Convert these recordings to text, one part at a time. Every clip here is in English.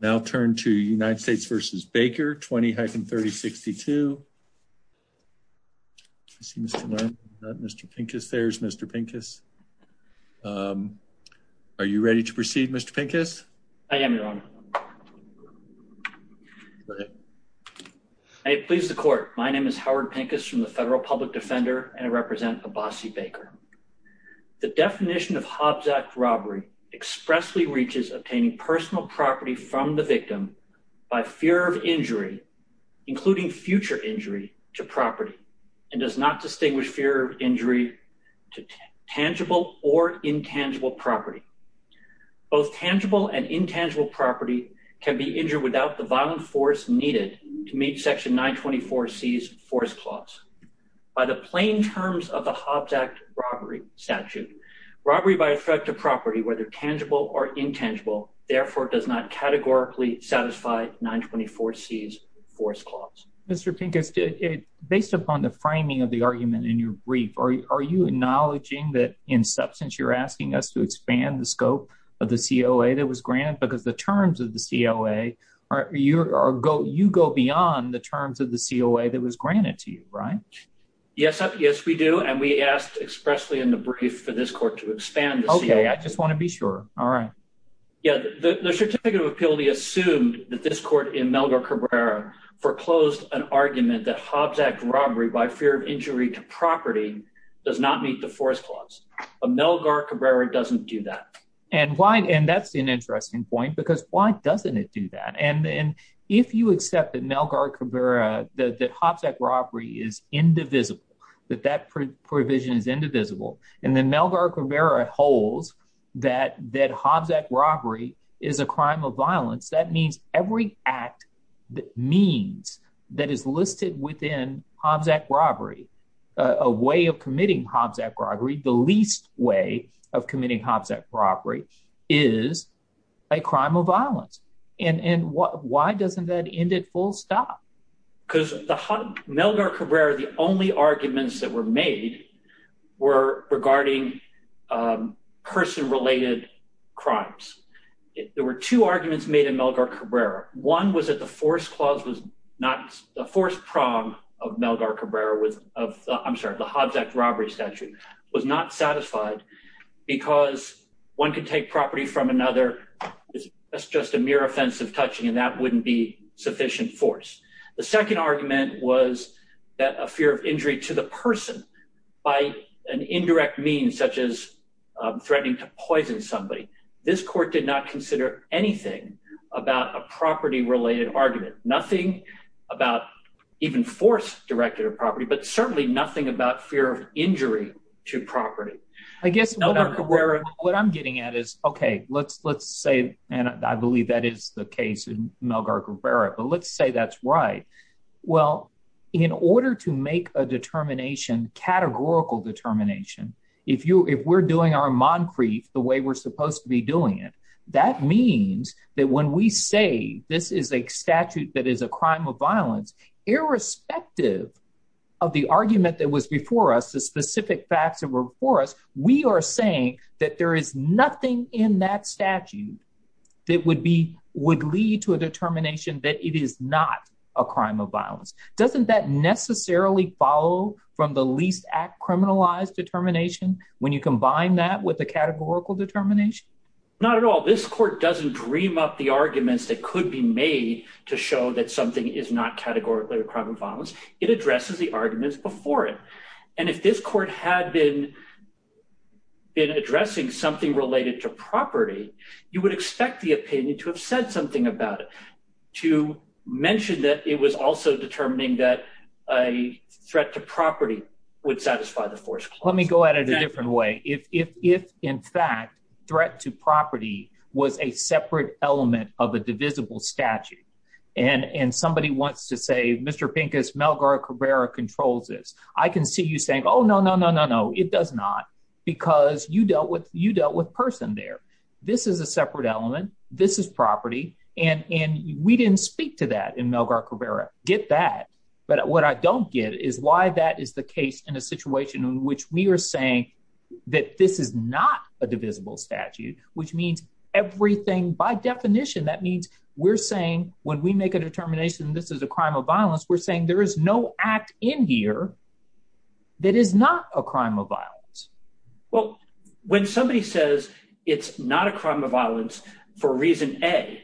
Now turn to United States v. Baker 20-3062 Mr. Pincus there's Mr. Pincus Are you ready to proceed Mr. Pincus? I am Your Honor. I please the court. My name is Howard Pincus from the Federal Public Defender and I represent Abbasi Baker. The defendant is charged with obtaining personal property from the victim by fear of injury, including future injury to property, and does not distinguish fear of injury to tangible or intangible property. Both tangible and intangible property can be injured without the violent force needed to meet section 924 C's force clause. By the plain terms of the Hobbs Act robbery statute, robbery by effect of property, whether tangible or intangible, therefore does not categorically satisfy 924 C's force clause. Mr. Pincus, based upon the framing of the argument in your brief, are you acknowledging that in substance you're asking us to expand the scope of the COA that was granted because the terms of the COA, you go beyond the terms of the COA that was granted to you, right? Yes, we do. And we asked expressly in the brief for this court to expand the COA. Okay, I just want to be sure. All right. Yeah, the certificate of appeal, we assumed that this court in Melgar Cabrera foreclosed an argument that Hobbs Act robbery by fear of injury to property does not meet the force clause. Melgar Cabrera doesn't do that. And that's an interesting point, because why doesn't it do that? And if you accept that Melgar Cabrera, that Hobbs Act robbery is indivisible, that that provision is indivisible, and then Melgar Cabrera holds that Hobbs Act robbery is a crime of violence, that means every act that means that is listed within Hobbs Act robbery, a way of committing Hobbs Act robbery, the least way of committing Hobbs Act robbery is a crime of violence. And why doesn't that end at full stop? Because Melgar Cabrera, the only arguments that were made were regarding person related crimes. There were two arguments made in Melgar Cabrera. One was that the force clause was not, the force prom of Melgar Cabrera was, I'm sorry, the Hobbs Act robbery statute was not satisfied, because one could take property from another. That's just a mere offense of touching, and that wouldn't be sufficient force. The second argument was that a fear of injury to the person by an indirect means such as threatening to poison somebody. This court did not consider anything about a property related argument, nothing about even force directed at property, but certainly nothing about fear of injury to property. I guess what I'm getting at is, okay, let's say, and I believe that is the case in Melgar Cabrera, but let's say that's right. Well, in order to make a determination, categorical determination, if we're doing our Moncrief the way we're supposed to be doing it, that means that when we say this is a statute that is a crime of violence, irrespective of the argument that was before us, the specific facts that were before us, we are saying that there is nothing in that statute that would lead to a determination that it is not a crime of violence. Doesn't that necessarily follow from the least act criminalized determination when you combine that with a categorical determination? Not at all. This court doesn't dream up the arguments that could be made to show that something is not categorically a crime of violence. It addresses the arguments before it. And if this court had been addressing something related to property, you would expect the opinion to have said something about it, to mention that it was also determining that a threat to property would satisfy the force clause. Let me go at it a different way. If, in fact, threat to property was a separate element of a divisible statute, and somebody wants to say, Mr. Pincus, Melgar Cabrera controls this, I can see you saying, oh, no, no, no, no, no, it does not, because you dealt with person there. This is a separate element. This is property. And we didn't speak to that in Melgar Cabrera. Get that. But what I don't get is why that is the case in a situation in which we are saying that this is not a divisible statute, which means everything, by definition, that means we're saying when we make a determination this is a crime of violence, we're saying there is no act in here that is not a crime of violence. Well, when somebody says it's not a crime of violence for reason A,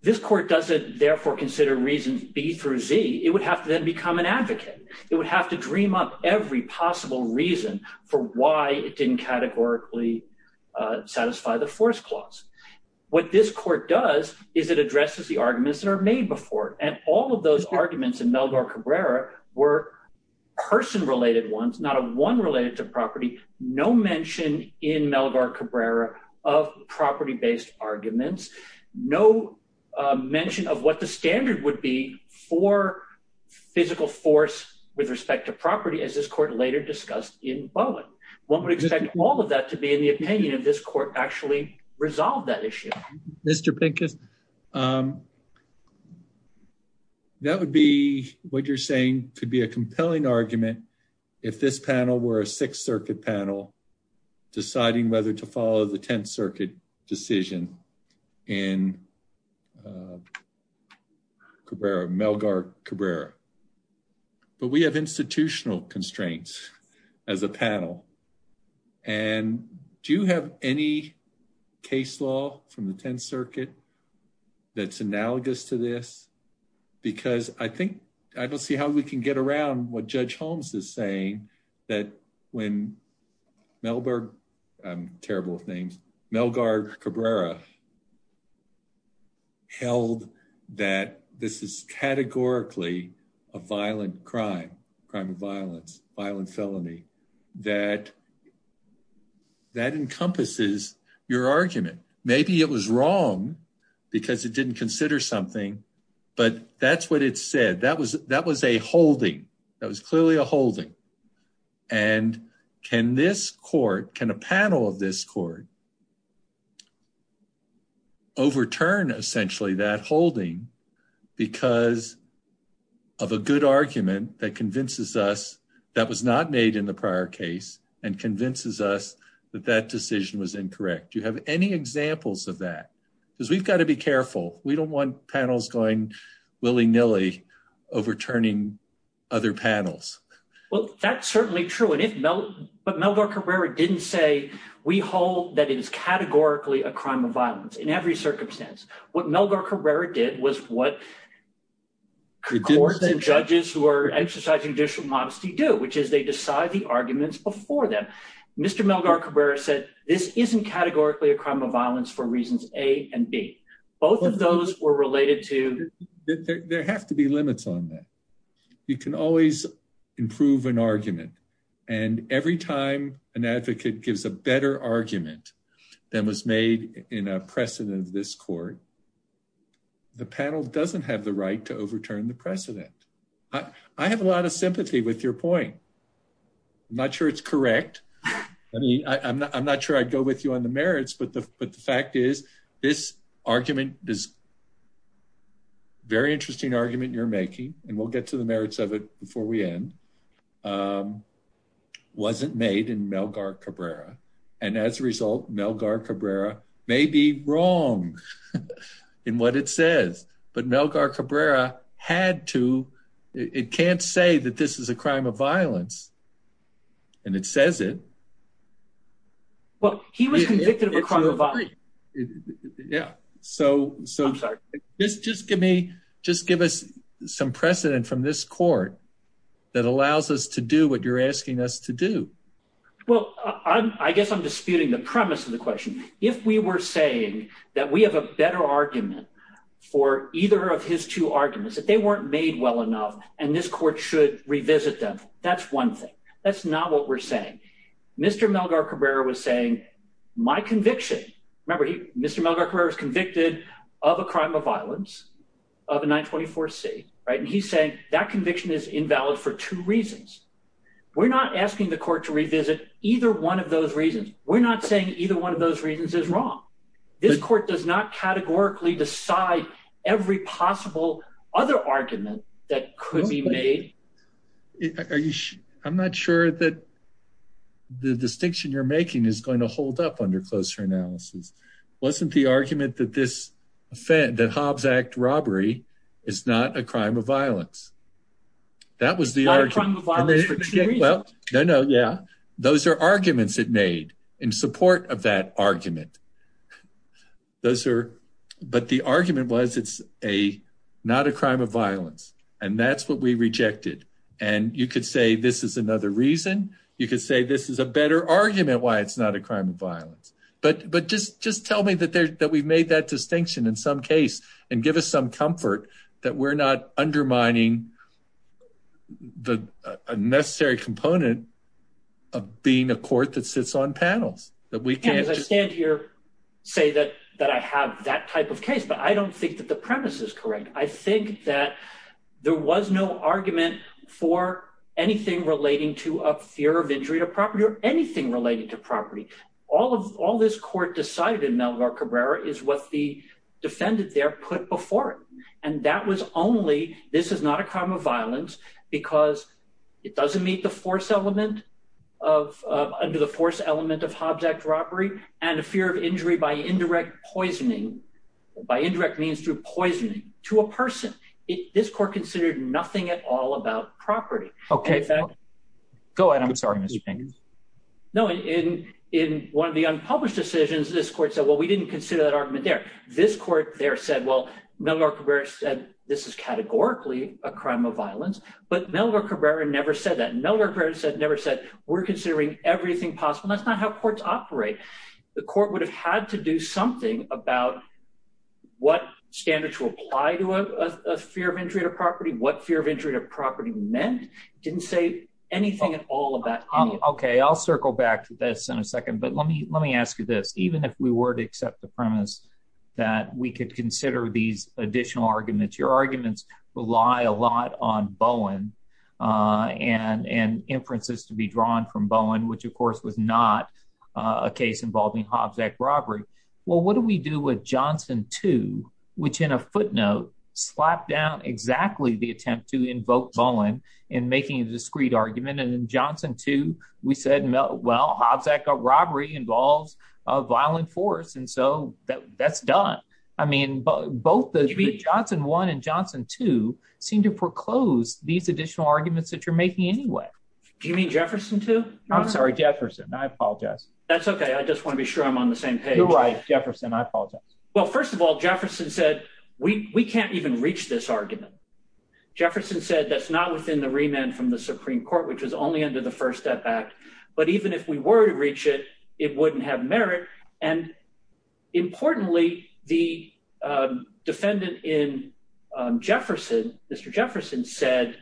this court doesn't therefore consider reason B through Z. It would have to then become an advocate. It would have to dream up every possible reason for why it didn't categorically satisfy the force clause. What this court does is it addresses the arguments that are made before it. And all of those arguments in Melgar Cabrera were person-related ones, not a one related to property, no mention in Melgar Cabrera of property-based arguments, no mention of what the standard would be for physical force with respect to property, as this court later discussed in Bowen. One would expect all of that to be in the opinion of this court actually resolve that issue. Mr. Pincus? That's analogous to this. Because I think I don't see how we can get around what Judge Holmes is saying that when Melgar Cabrera held that this is categorically a violent crime, crime of violence, violent felony, that encompasses your argument. Maybe it was wrong because it didn't consider something, but that's what it said. That was a holding. That was clearly a holding. And can this court, can a panel of this court overturn essentially that holding because of a good argument that convinces us that was not made in the prior case and convinces us that that decision was incorrect? Do you have any examples of that? Because we've got to be careful. We don't want panels going willy-nilly overturning other panels. Well, that's certainly true. But Melgar Cabrera didn't say we hold that it is categorically a crime of violence in every circumstance. What Melgar Cabrera did was what courts and judges who are exercising judicial modesty do, which is they decide the arguments before them. Mr. Melgar Cabrera said this isn't categorically a crime of violence for reasons A and B. Both of those were related to… There have to be limits on that. You can always improve an argument. And every time an advocate gives a better argument than was made in a precedent of this court, the panel doesn't have the right to overturn the precedent. I have a lot of sympathy with your point. I'm not sure it's correct. I mean, I'm not sure I'd go with you on the merits, but the fact is this argument, this very interesting argument you're making, and we'll get to the merits of it before we end, wasn't made in Melgar Cabrera. And as a result, Melgar Cabrera may be wrong in what it says. But Melgar Cabrera had to… It can't say that this is a crime of violence. And it says it. Well, he was convicted of a crime of violence. Yeah. So… I'm sorry. Just give me… Just give us some precedent from this court that allows us to do what you're asking us to do. Well, I guess I'm disputing the premise of the question. If we were saying that we have a better argument for either of his two arguments, that they weren't made well enough, and this court should revisit them, that's one thing. That's not what we're saying. Mr. Melgar Cabrera was saying my conviction… Remember, Mr. Melgar Cabrera was convicted of a crime of violence, of a 924C, and he's saying that conviction is invalid for two reasons. We're not asking the court to revisit either one of those reasons. We're not saying either one of those reasons is wrong. This court does not categorically decide every possible other argument that could be made. I'm not sure that the distinction you're making is going to hold up under closer analysis. Wasn't the argument that Hobbs Act robbery is not a crime of violence? Not a crime of violence for two reasons. No, no, yeah. Those are arguments it made in support of that argument. But the argument was it's not a crime of violence, and that's what we rejected. You could say this is another reason. You could say this is a better argument why it's not a crime of violence. But just tell me that we've made that distinction in some case, and give us some comfort that we're not undermining a necessary component of being a court that sits on panels. As I stand here, say that I have that type of case, but I don't think that the premise is correct. I think that there was no argument for anything relating to a fear of injury to property or anything related to property. All this court decided in Melgar Cabrera is what the defendant there put before it. And that was only, this is not a crime of violence because it doesn't meet the force element of under the force element of Hobbs Act robbery, and a fear of injury by indirect poisoning, by indirect means through poisoning, to a person. This court considered nothing at all about property. Okay, go ahead. I'm sorry, Mr. Peng. No, in one of the unpublished decisions, this court said, well, we didn't consider that argument there. This court there said, well, Melgar Cabrera said, this is categorically a crime of violence, but Melgar Cabrera never said that. Melgar Cabrera never said, we're considering everything possible. That's not how courts operate. The court would have had to do something about what standards will apply to a fear of injury to property, what fear of injury to property meant. It didn't say anything at all about anything. Okay, I'll circle back to this in a second, but let me ask you this. Even if we were to accept the premise that we could consider these additional arguments, your arguments rely a lot on Bowen and inferences to be drawn from Bowen, which of course was not a case involving Hobbs Act robbery. Well, what do we do with Johnson 2, which in a footnote slapped down exactly the attempt to invoke Bowen in making a discreet argument, and in Johnson 2, we said, well, Hobbs Act robbery involves a violent force, and so that's done. I mean, both the Johnson 1 and Johnson 2 seem to foreclose these additional arguments that you're making anyway. Do you mean Jefferson 2? I'm sorry, Jefferson. I apologize. That's okay. I just want to be sure I'm on the same page. You're right, Jefferson. I apologize. Well, first of all, Jefferson said we can't even reach this argument. Jefferson said that's not within the remand from the Supreme Court, which was only under the First Step Act, but even if we were to reach it, it wouldn't have merit. And importantly, the defendant in Jefferson, Mr. Jefferson, said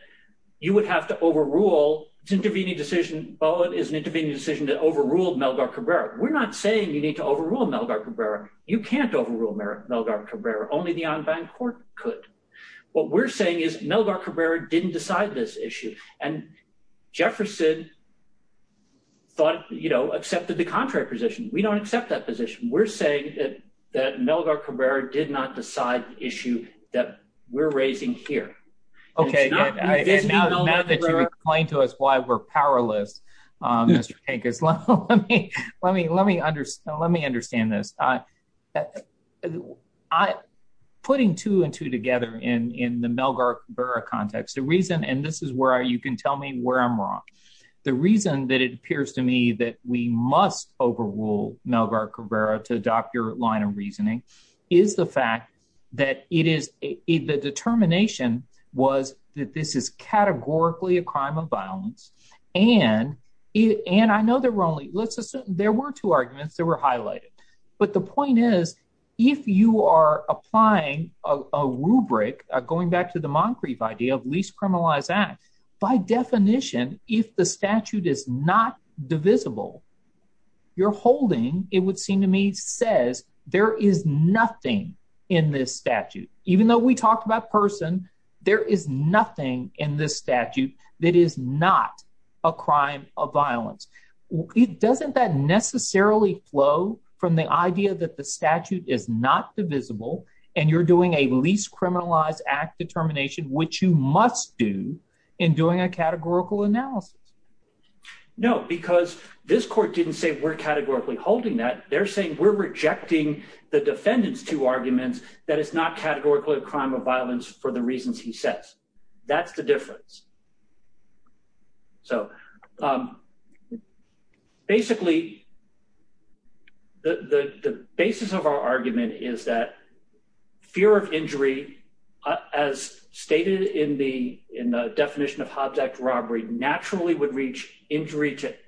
you would have to overrule. It's an intervening decision. Bowen is an intervening decision that overruled Melgar Cabrera. We're not saying you need to overrule Melgar Cabrera. You can't overrule Melgar Cabrera. Only the en banc court could. What we're saying is Melgar Cabrera didn't decide this issue, and Jefferson thought, you know, accepted the contrary position. We don't accept that position. We're saying that Melgar Cabrera did not decide the issue that we're raising here. Okay. Now that you've explained to us why we're powerless, Mr. Tankis, let me understand this. Putting two and two together in the Melgar Cabrera context, the reason – and this is where you can tell me where I'm wrong. The reason that it appears to me that we must overrule Melgar Cabrera to adopt your line of reasoning is the fact that it is – the determination was that this is categorically a crime of violence, and I know there were only – let's assume there were two arguments that were highlighted. But the point is if you are applying a rubric, going back to the Moncrief idea of least criminalized act, by definition, if the statute is not divisible, your holding, it would seem to me, says there is nothing in this statute. Even though we talked about person, there is nothing in this statute that is not a crime of violence. Doesn't that necessarily flow from the idea that the statute is not divisible, and you're doing a least criminalized act determination, which you must do in doing a categorical analysis? No, because this court didn't say we're categorically holding that. They're saying we're rejecting the defendant's two arguments that it's not categorically a crime of violence for the reasons he says. That's the difference. So basically, the basis of our argument is that fear of injury, as stated in the definition of Hobbs Act robbery, naturally would reach injury to –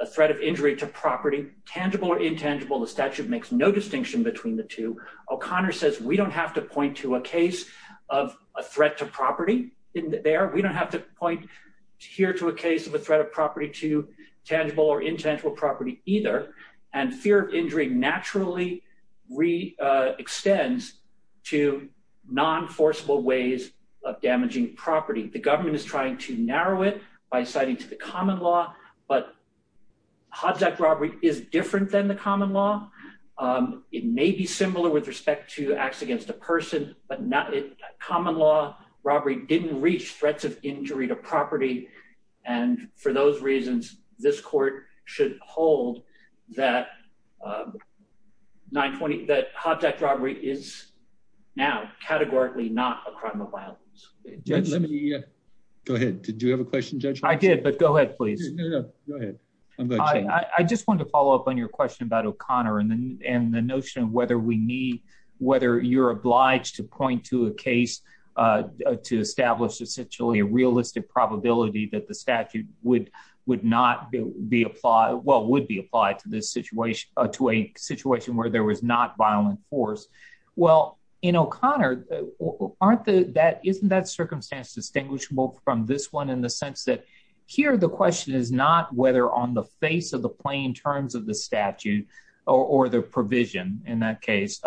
a threat of injury to property, tangible or intangible. The statute makes no distinction between the two. O'Connor says we don't have to point to a case of a threat to property there. We don't have to point here to a case of a threat of property to tangible or intangible property either. And fear of injury naturally re-extends to non-forcible ways of damaging property. The government is trying to narrow it by citing to the common law, but Hobbs Act robbery is different than the common law. It may be similar with respect to acts against a person, but common law robbery didn't reach threats of injury to property, and for those reasons, this court should hold that 920 – that Hobbs Act robbery is now categorically not a crime of violence. Go ahead. Did you have a question, Judge? I did, but go ahead, please. No, no, go ahead. I just wanted to follow up on your question about O'Connor and the notion of whether we need – whether you're obliged to point to a case to establish essentially a realistic probability that the statute would not be applied – well, would be applied to this situation – to a situation where there was not violent force. Well, in O'Connor, aren't the – isn't that circumstance distinguishable from this one in the sense that here the question is not whether on the face of the plain terms of the statute or the provision in that case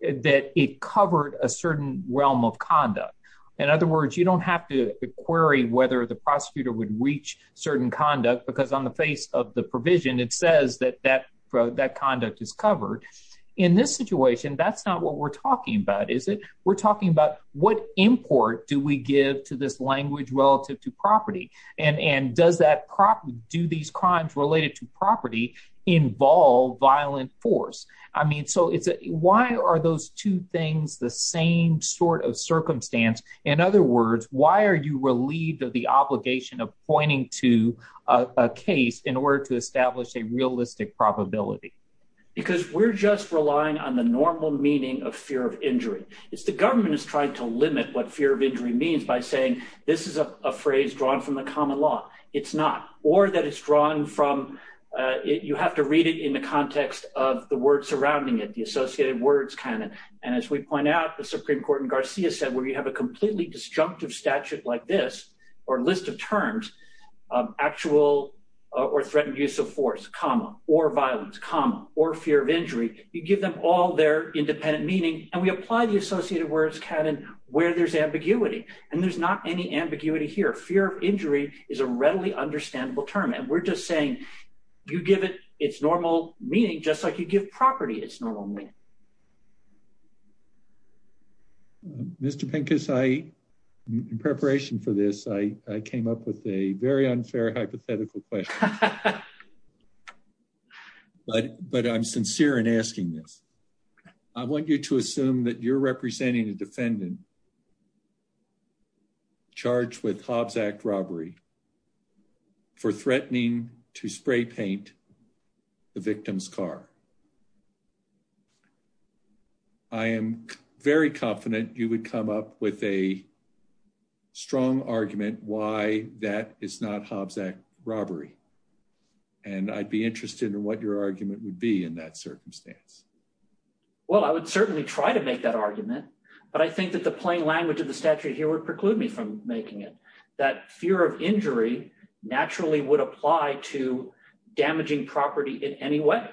that it covered a certain realm of conduct. In other words, you don't have to query whether the prosecutor would reach certain conduct because on the face of the provision, it says that that conduct is covered. In this situation, that's not what we're talking about, is it? We're talking about what import do we give to this language relative to property, and does that – do these crimes related to property involve violent force? I mean, so why are those two things the same sort of circumstance? In other words, why are you relieved of the obligation of pointing to a case in order to establish a realistic probability? Because we're just relying on the normal meaning of fear of injury. It's the government that's trying to limit what fear of injury means by saying this is a phrase drawn from the common law. It's not, or that it's drawn from – you have to read it in the context of the word surrounding it, the associated words canon. And as we point out, the Supreme Court in Garcia said where you have a completely disjunctive statute like this or list of terms, actual or threatened use of force, comma, or violence, comma, or fear of injury, you give them all their independent meaning. And we apply the associated words canon where there's ambiguity, and there's not any ambiguity here. Fear of injury is a readily understandable term, and we're just saying you give it its normal meaning just like you give property its normal meaning. Mr. Pincus, in preparation for this, I came up with a very unfair hypothetical question. But I'm sincere in asking this. I want you to assume that you're representing a defendant charged with Hobbs Act robbery for threatening to spray paint the victim's car. I am very confident you would come up with a strong argument why that is not Hobbs Act robbery. And I'd be interested in what your argument would be in that circumstance. Well, I would certainly try to make that argument, but I think that the plain language of the statute here would preclude me from making it. That fear of injury naturally would apply to damaging property in any way.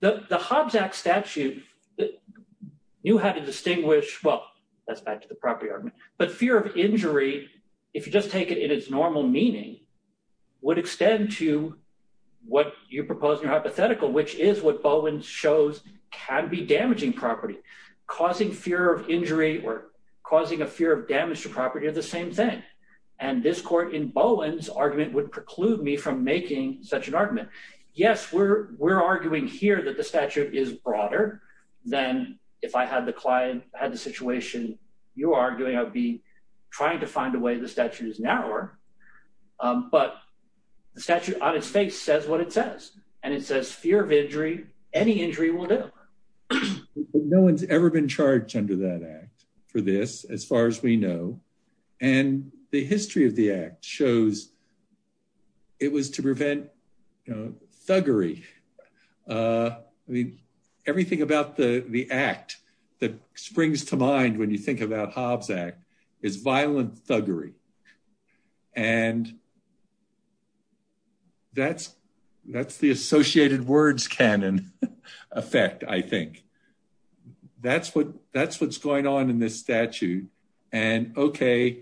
The Hobbs Act statute knew how to distinguish, well, that's back to the property argument, but fear of injury, if you just take it in its normal meaning, would extend to what you propose in your hypothetical, which is what Bowen shows can be damaging property. Causing fear of injury or causing a fear of damage to property are the same thing. And this court in Bowen's argument would preclude me from making such an argument. Yes, we're arguing here that the statute is broader than if I had the client, had the situation you're arguing, I'd be trying to find a way the statute is narrower. But the statute on its face says what it says, and it says fear of injury, any injury will do. No one's ever been charged under that act for this, as far as we know. And the history of the act shows it was to prevent thuggery. I mean, everything about the act that springs to mind when you think about Hobbs Act is violent thuggery. And that's the associated words canon effect, I think. That's what that's what's going on in this statute. And OK,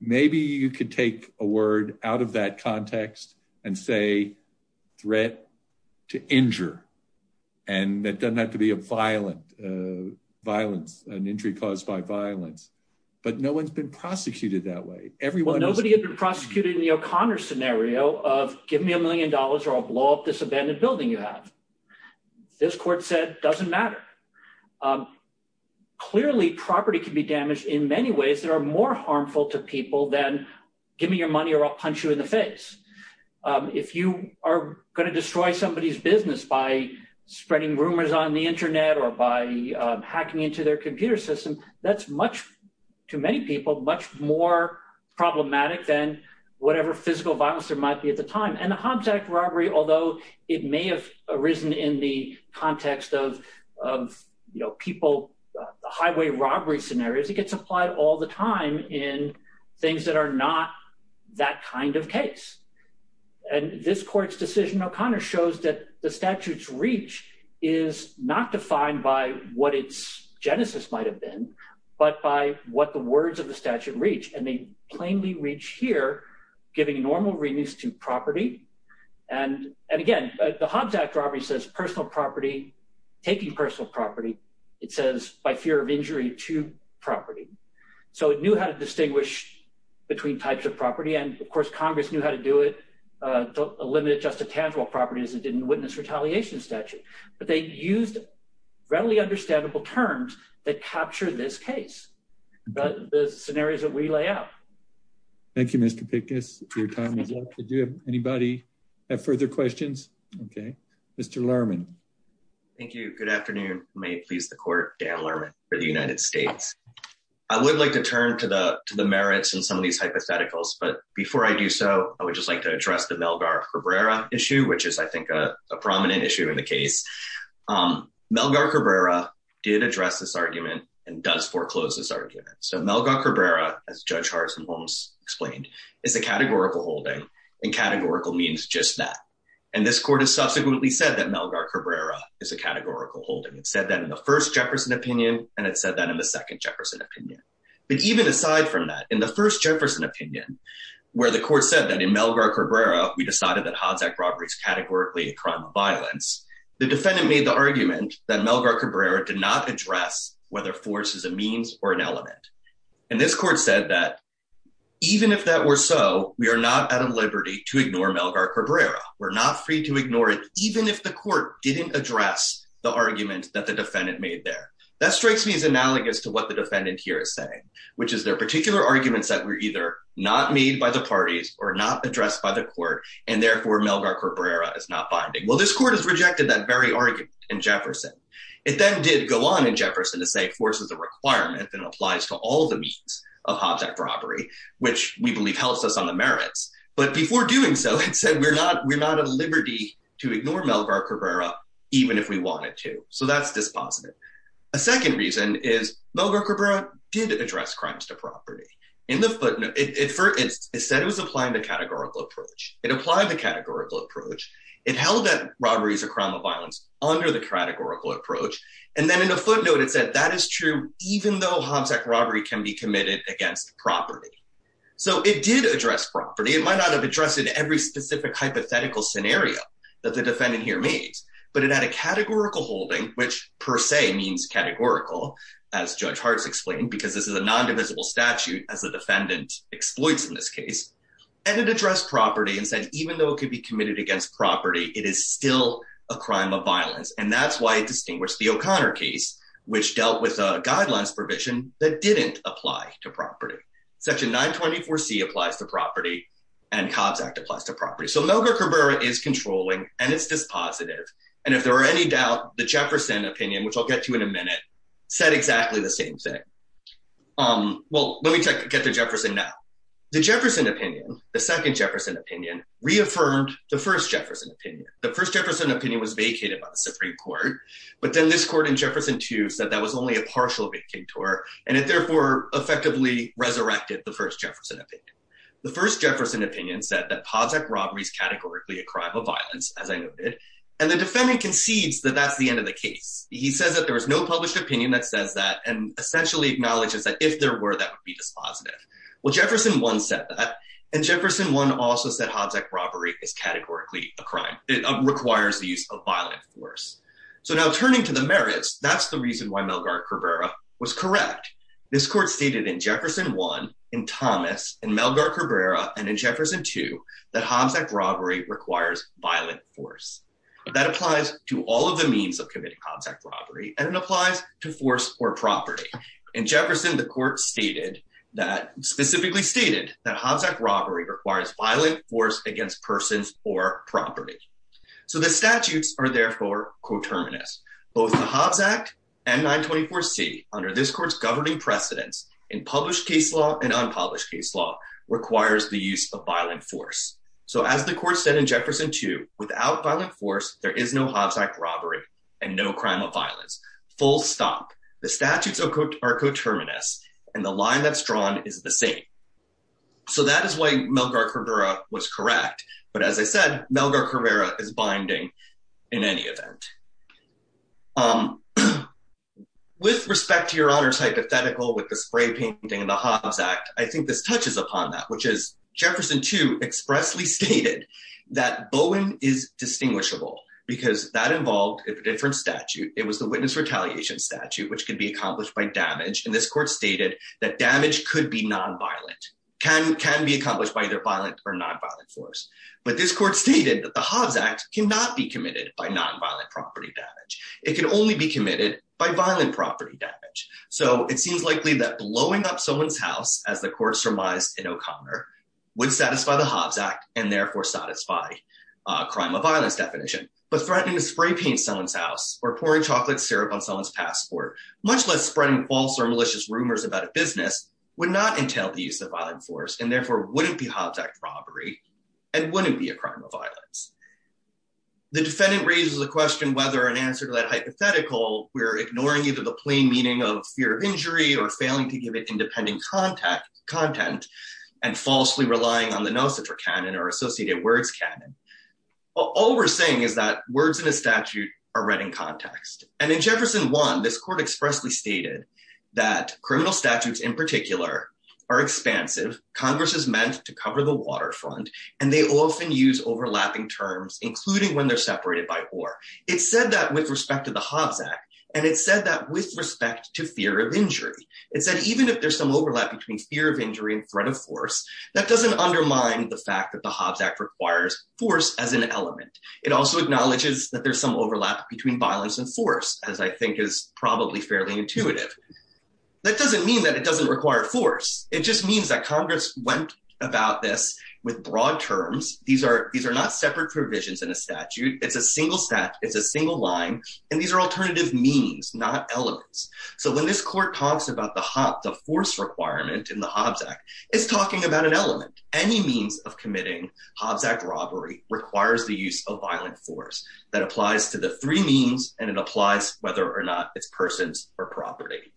maybe you could take a word out of that context and say threat to injure. And that doesn't have to be a violent violence, an injury caused by violence. But no one's been prosecuted that way. Well, nobody had been prosecuted in the O'Connor scenario of give me a million dollars or I'll blow up this abandoned building you have. This court said doesn't matter. Clearly, property can be damaged in many ways that are more harmful to people than give me your money or I'll punch you in the face. If you are going to destroy somebody's business by spreading rumors on the Internet or by hacking into their computer system. That's much too many people, much more problematic than whatever physical violence there might be at the time. And the Hobbs Act robbery, although it may have arisen in the context of people, the highway robbery scenarios, it gets applied all the time in things that are not that kind of case. And this court's decision, O'Connor shows that the statute's reach is not defined by what its genesis might have been, but by what the words of the statute reach. And they plainly reach here, giving normal readings to property. And again, the Hobbs Act robbery says personal property, taking personal property. It says by fear of injury to property. So it knew how to distinguish between types of property. And of course, Congress knew how to do it. A limited just a tangible property is it didn't witness retaliation statute, but they used readily understandable terms that capture this case. But the scenarios that we lay out. Thank you, Mr. Pickens. Your time is up. Did you have anybody have further questions? OK, Mr. Lerman. Thank you. Good afternoon. May it please the court. Dan Lerman for the United States. I would like to turn to the merits and some of these hypotheticals. But before I do so, I would just like to address the Melgar Cabrera issue, which is, I think, a prominent issue in the case. Melgar Cabrera did address this argument and does foreclose this argument. So Melgar Cabrera, as Judge Harrison Holmes explained, is a categorical holding and categorical means just that. And this court has subsequently said that Melgar Cabrera is a categorical holding. It said that in the first Jefferson opinion. And it said that in the second Jefferson opinion. But even aside from that, in the first Jefferson opinion, where the court said that in Melgar Cabrera, we decided that Hadzak robbery is categorically a crime of violence. The defendant made the argument that Melgar Cabrera did not address whether force is a means or an element. And this court said that even if that were so, we are not out of liberty to ignore Melgar Cabrera. We're not free to ignore it, even if the court didn't address the argument that the defendant made there. That strikes me as analogous to what the defendant here is saying, which is there are particular arguments that were either not made by the parties or not addressed by the court, and therefore Melgar Cabrera is not binding. Well, this court has rejected that very argument in Jefferson. It then did go on in Jefferson to say force is a requirement that applies to all the means of Hadzak robbery, which we believe helps us on the merits. But before doing so, it said we're not out of liberty to ignore Melgar Cabrera, even if we wanted to. So that's dispositive. A second reason is Melgar Cabrera did address crimes to property. For instance, it said it was applying the categorical approach. It applied the categorical approach. It held that robbery is a crime of violence under the categorical approach. And then in a footnote, it said that is true, even though Hadzak robbery can be committed against property. So it did address property. It might not have addressed in every specific hypothetical scenario that the defendant here made. But it had a categorical holding, which per se means categorical, as Judge Hartz explained, because this is a non-divisible statute as a defendant exploits in this case. And it addressed property and said even though it could be committed against property, it is still a crime of violence. And that's why it distinguished the O'Connor case, which dealt with a guidelines provision that didn't apply to property. Section 924C applies to property, and Cobbs Act applies to property. So Melgar Cabrera is controlling, and it's dispositive. And if there are any doubt, the Jefferson opinion, which I'll get to in a minute, said exactly the same thing. Well, let me get to Jefferson now. The Jefferson opinion, the second Jefferson opinion, reaffirmed the first Jefferson opinion. The first Jefferson opinion was vacated by the Supreme Court. But then this court in Jefferson 2 said that was only a partial victim to her, and it therefore effectively resurrected the first Jefferson opinion. The first Jefferson opinion said that Hobbs Act robbery is categorically a crime of violence, as I noted. And the defendant concedes that that's the end of the case. He says that there was no published opinion that says that and essentially acknowledges that if there were, that would be dispositive. Well, Jefferson 1 said that. And Jefferson 1 also said Hobbs Act robbery is categorically a crime. It requires the use of violent force. So now turning to the merits, that's the reason why Melgar Cabrera was correct. This court stated in Jefferson 1, in Thomas, in Melgar Cabrera, and in Jefferson 2, that Hobbs Act robbery requires violent force. That applies to all of the means of committing Hobbs Act robbery, and it applies to force or property. In Jefferson, the court specifically stated that Hobbs Act robbery requires violent force against persons or property. So the statutes are therefore coterminous. Both the Hobbs Act and 924C, under this court's governing precedence in published case law and unpublished case law, requires the use of violent force. So as the court said in Jefferson 2, without violent force, there is no Hobbs Act robbery and no crime of violence. Full stop. The statutes are coterminous, and the line that's drawn is the same. So that is why Melgar Cabrera was correct. But as I said, Melgar Cabrera is binding in any event. With respect to Your Honor's hypothetical with the spray painting and the Hobbs Act, I think this touches upon that, which is Jefferson 2 expressly stated that Bowen is distinguishable because that involved a different statute. It was the witness retaliation statute, which can be accomplished by damage. And this court stated that damage could be nonviolent, can be accomplished by either violent or nonviolent force. But this court stated that the Hobbs Act cannot be committed by nonviolent property damage. It can only be committed by violent property damage. So it seems likely that blowing up someone's house, as the court surmised in O'Connor, would satisfy the Hobbs Act and therefore satisfy crime of violence definition. But threatening to spray paint someone's house or pouring chocolate syrup on someone's passport, much less spreading false or malicious rumors about a business, would not entail the use of violent force, and therefore wouldn't be Hobbs Act robbery and wouldn't be a crime of violence. The defendant raises the question whether in answer to that hypothetical, we're ignoring either the plain meaning of fear of injury or failing to give it independent content and falsely relying on the no-citra canon or associated words canon. All we're saying is that words in a statute are read in context. And in Jefferson 1, this court expressly stated that criminal statutes in particular are expansive. Congress is meant to cover the waterfront, and they often use overlapping terms, including when they're separated by or. It said that with respect to the Hobbs Act, and it said that with respect to fear of injury. It said even if there's some overlap between fear of injury and threat of force, that doesn't undermine the fact that the Hobbs Act requires force as an element. It also acknowledges that there's some overlap between violence and force, as I think is probably fairly intuitive. That doesn't mean that it doesn't require force. It just means that Congress went about this with broad terms. These are these are not separate provisions in a statute. It's a single set. It's a single line. And these are alternative means, not elements. So when this court talks about the force requirement in the Hobbs Act, it's talking about an element. Any means of committing Hobbs Act robbery requires the use of violent force that applies to the three means. And it applies whether or not it's persons or property.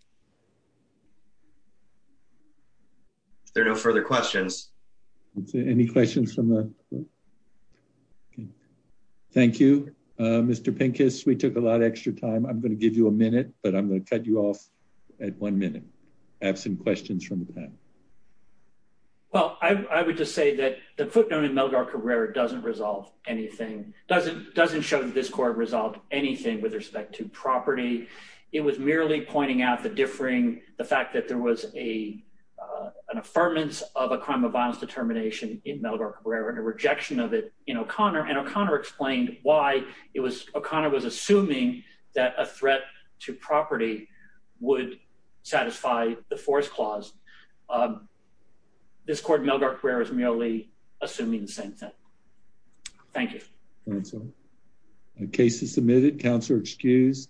There are no further questions. Any questions from the. Thank you, Mr. Pincus. We took a lot of extra time. I'm going to give you a minute, but I'm going to cut you off at one minute. I have some questions from the panel. Well, I would just say that the footnote in Melgar Carrera doesn't resolve anything. Doesn't doesn't show that this court resolved anything with respect to property. It was merely pointing out the differing the fact that there was a an affirmance of a crime of violence determination in Melgar Carrera and a rejection of it. In O'Connor and O'Connor explained why it was O'Connor was assuming that a threat to property would satisfy the force clause. This court Melgar Carrera is merely assuming the same thing. Thank you. Case is submitted. Counselor excused.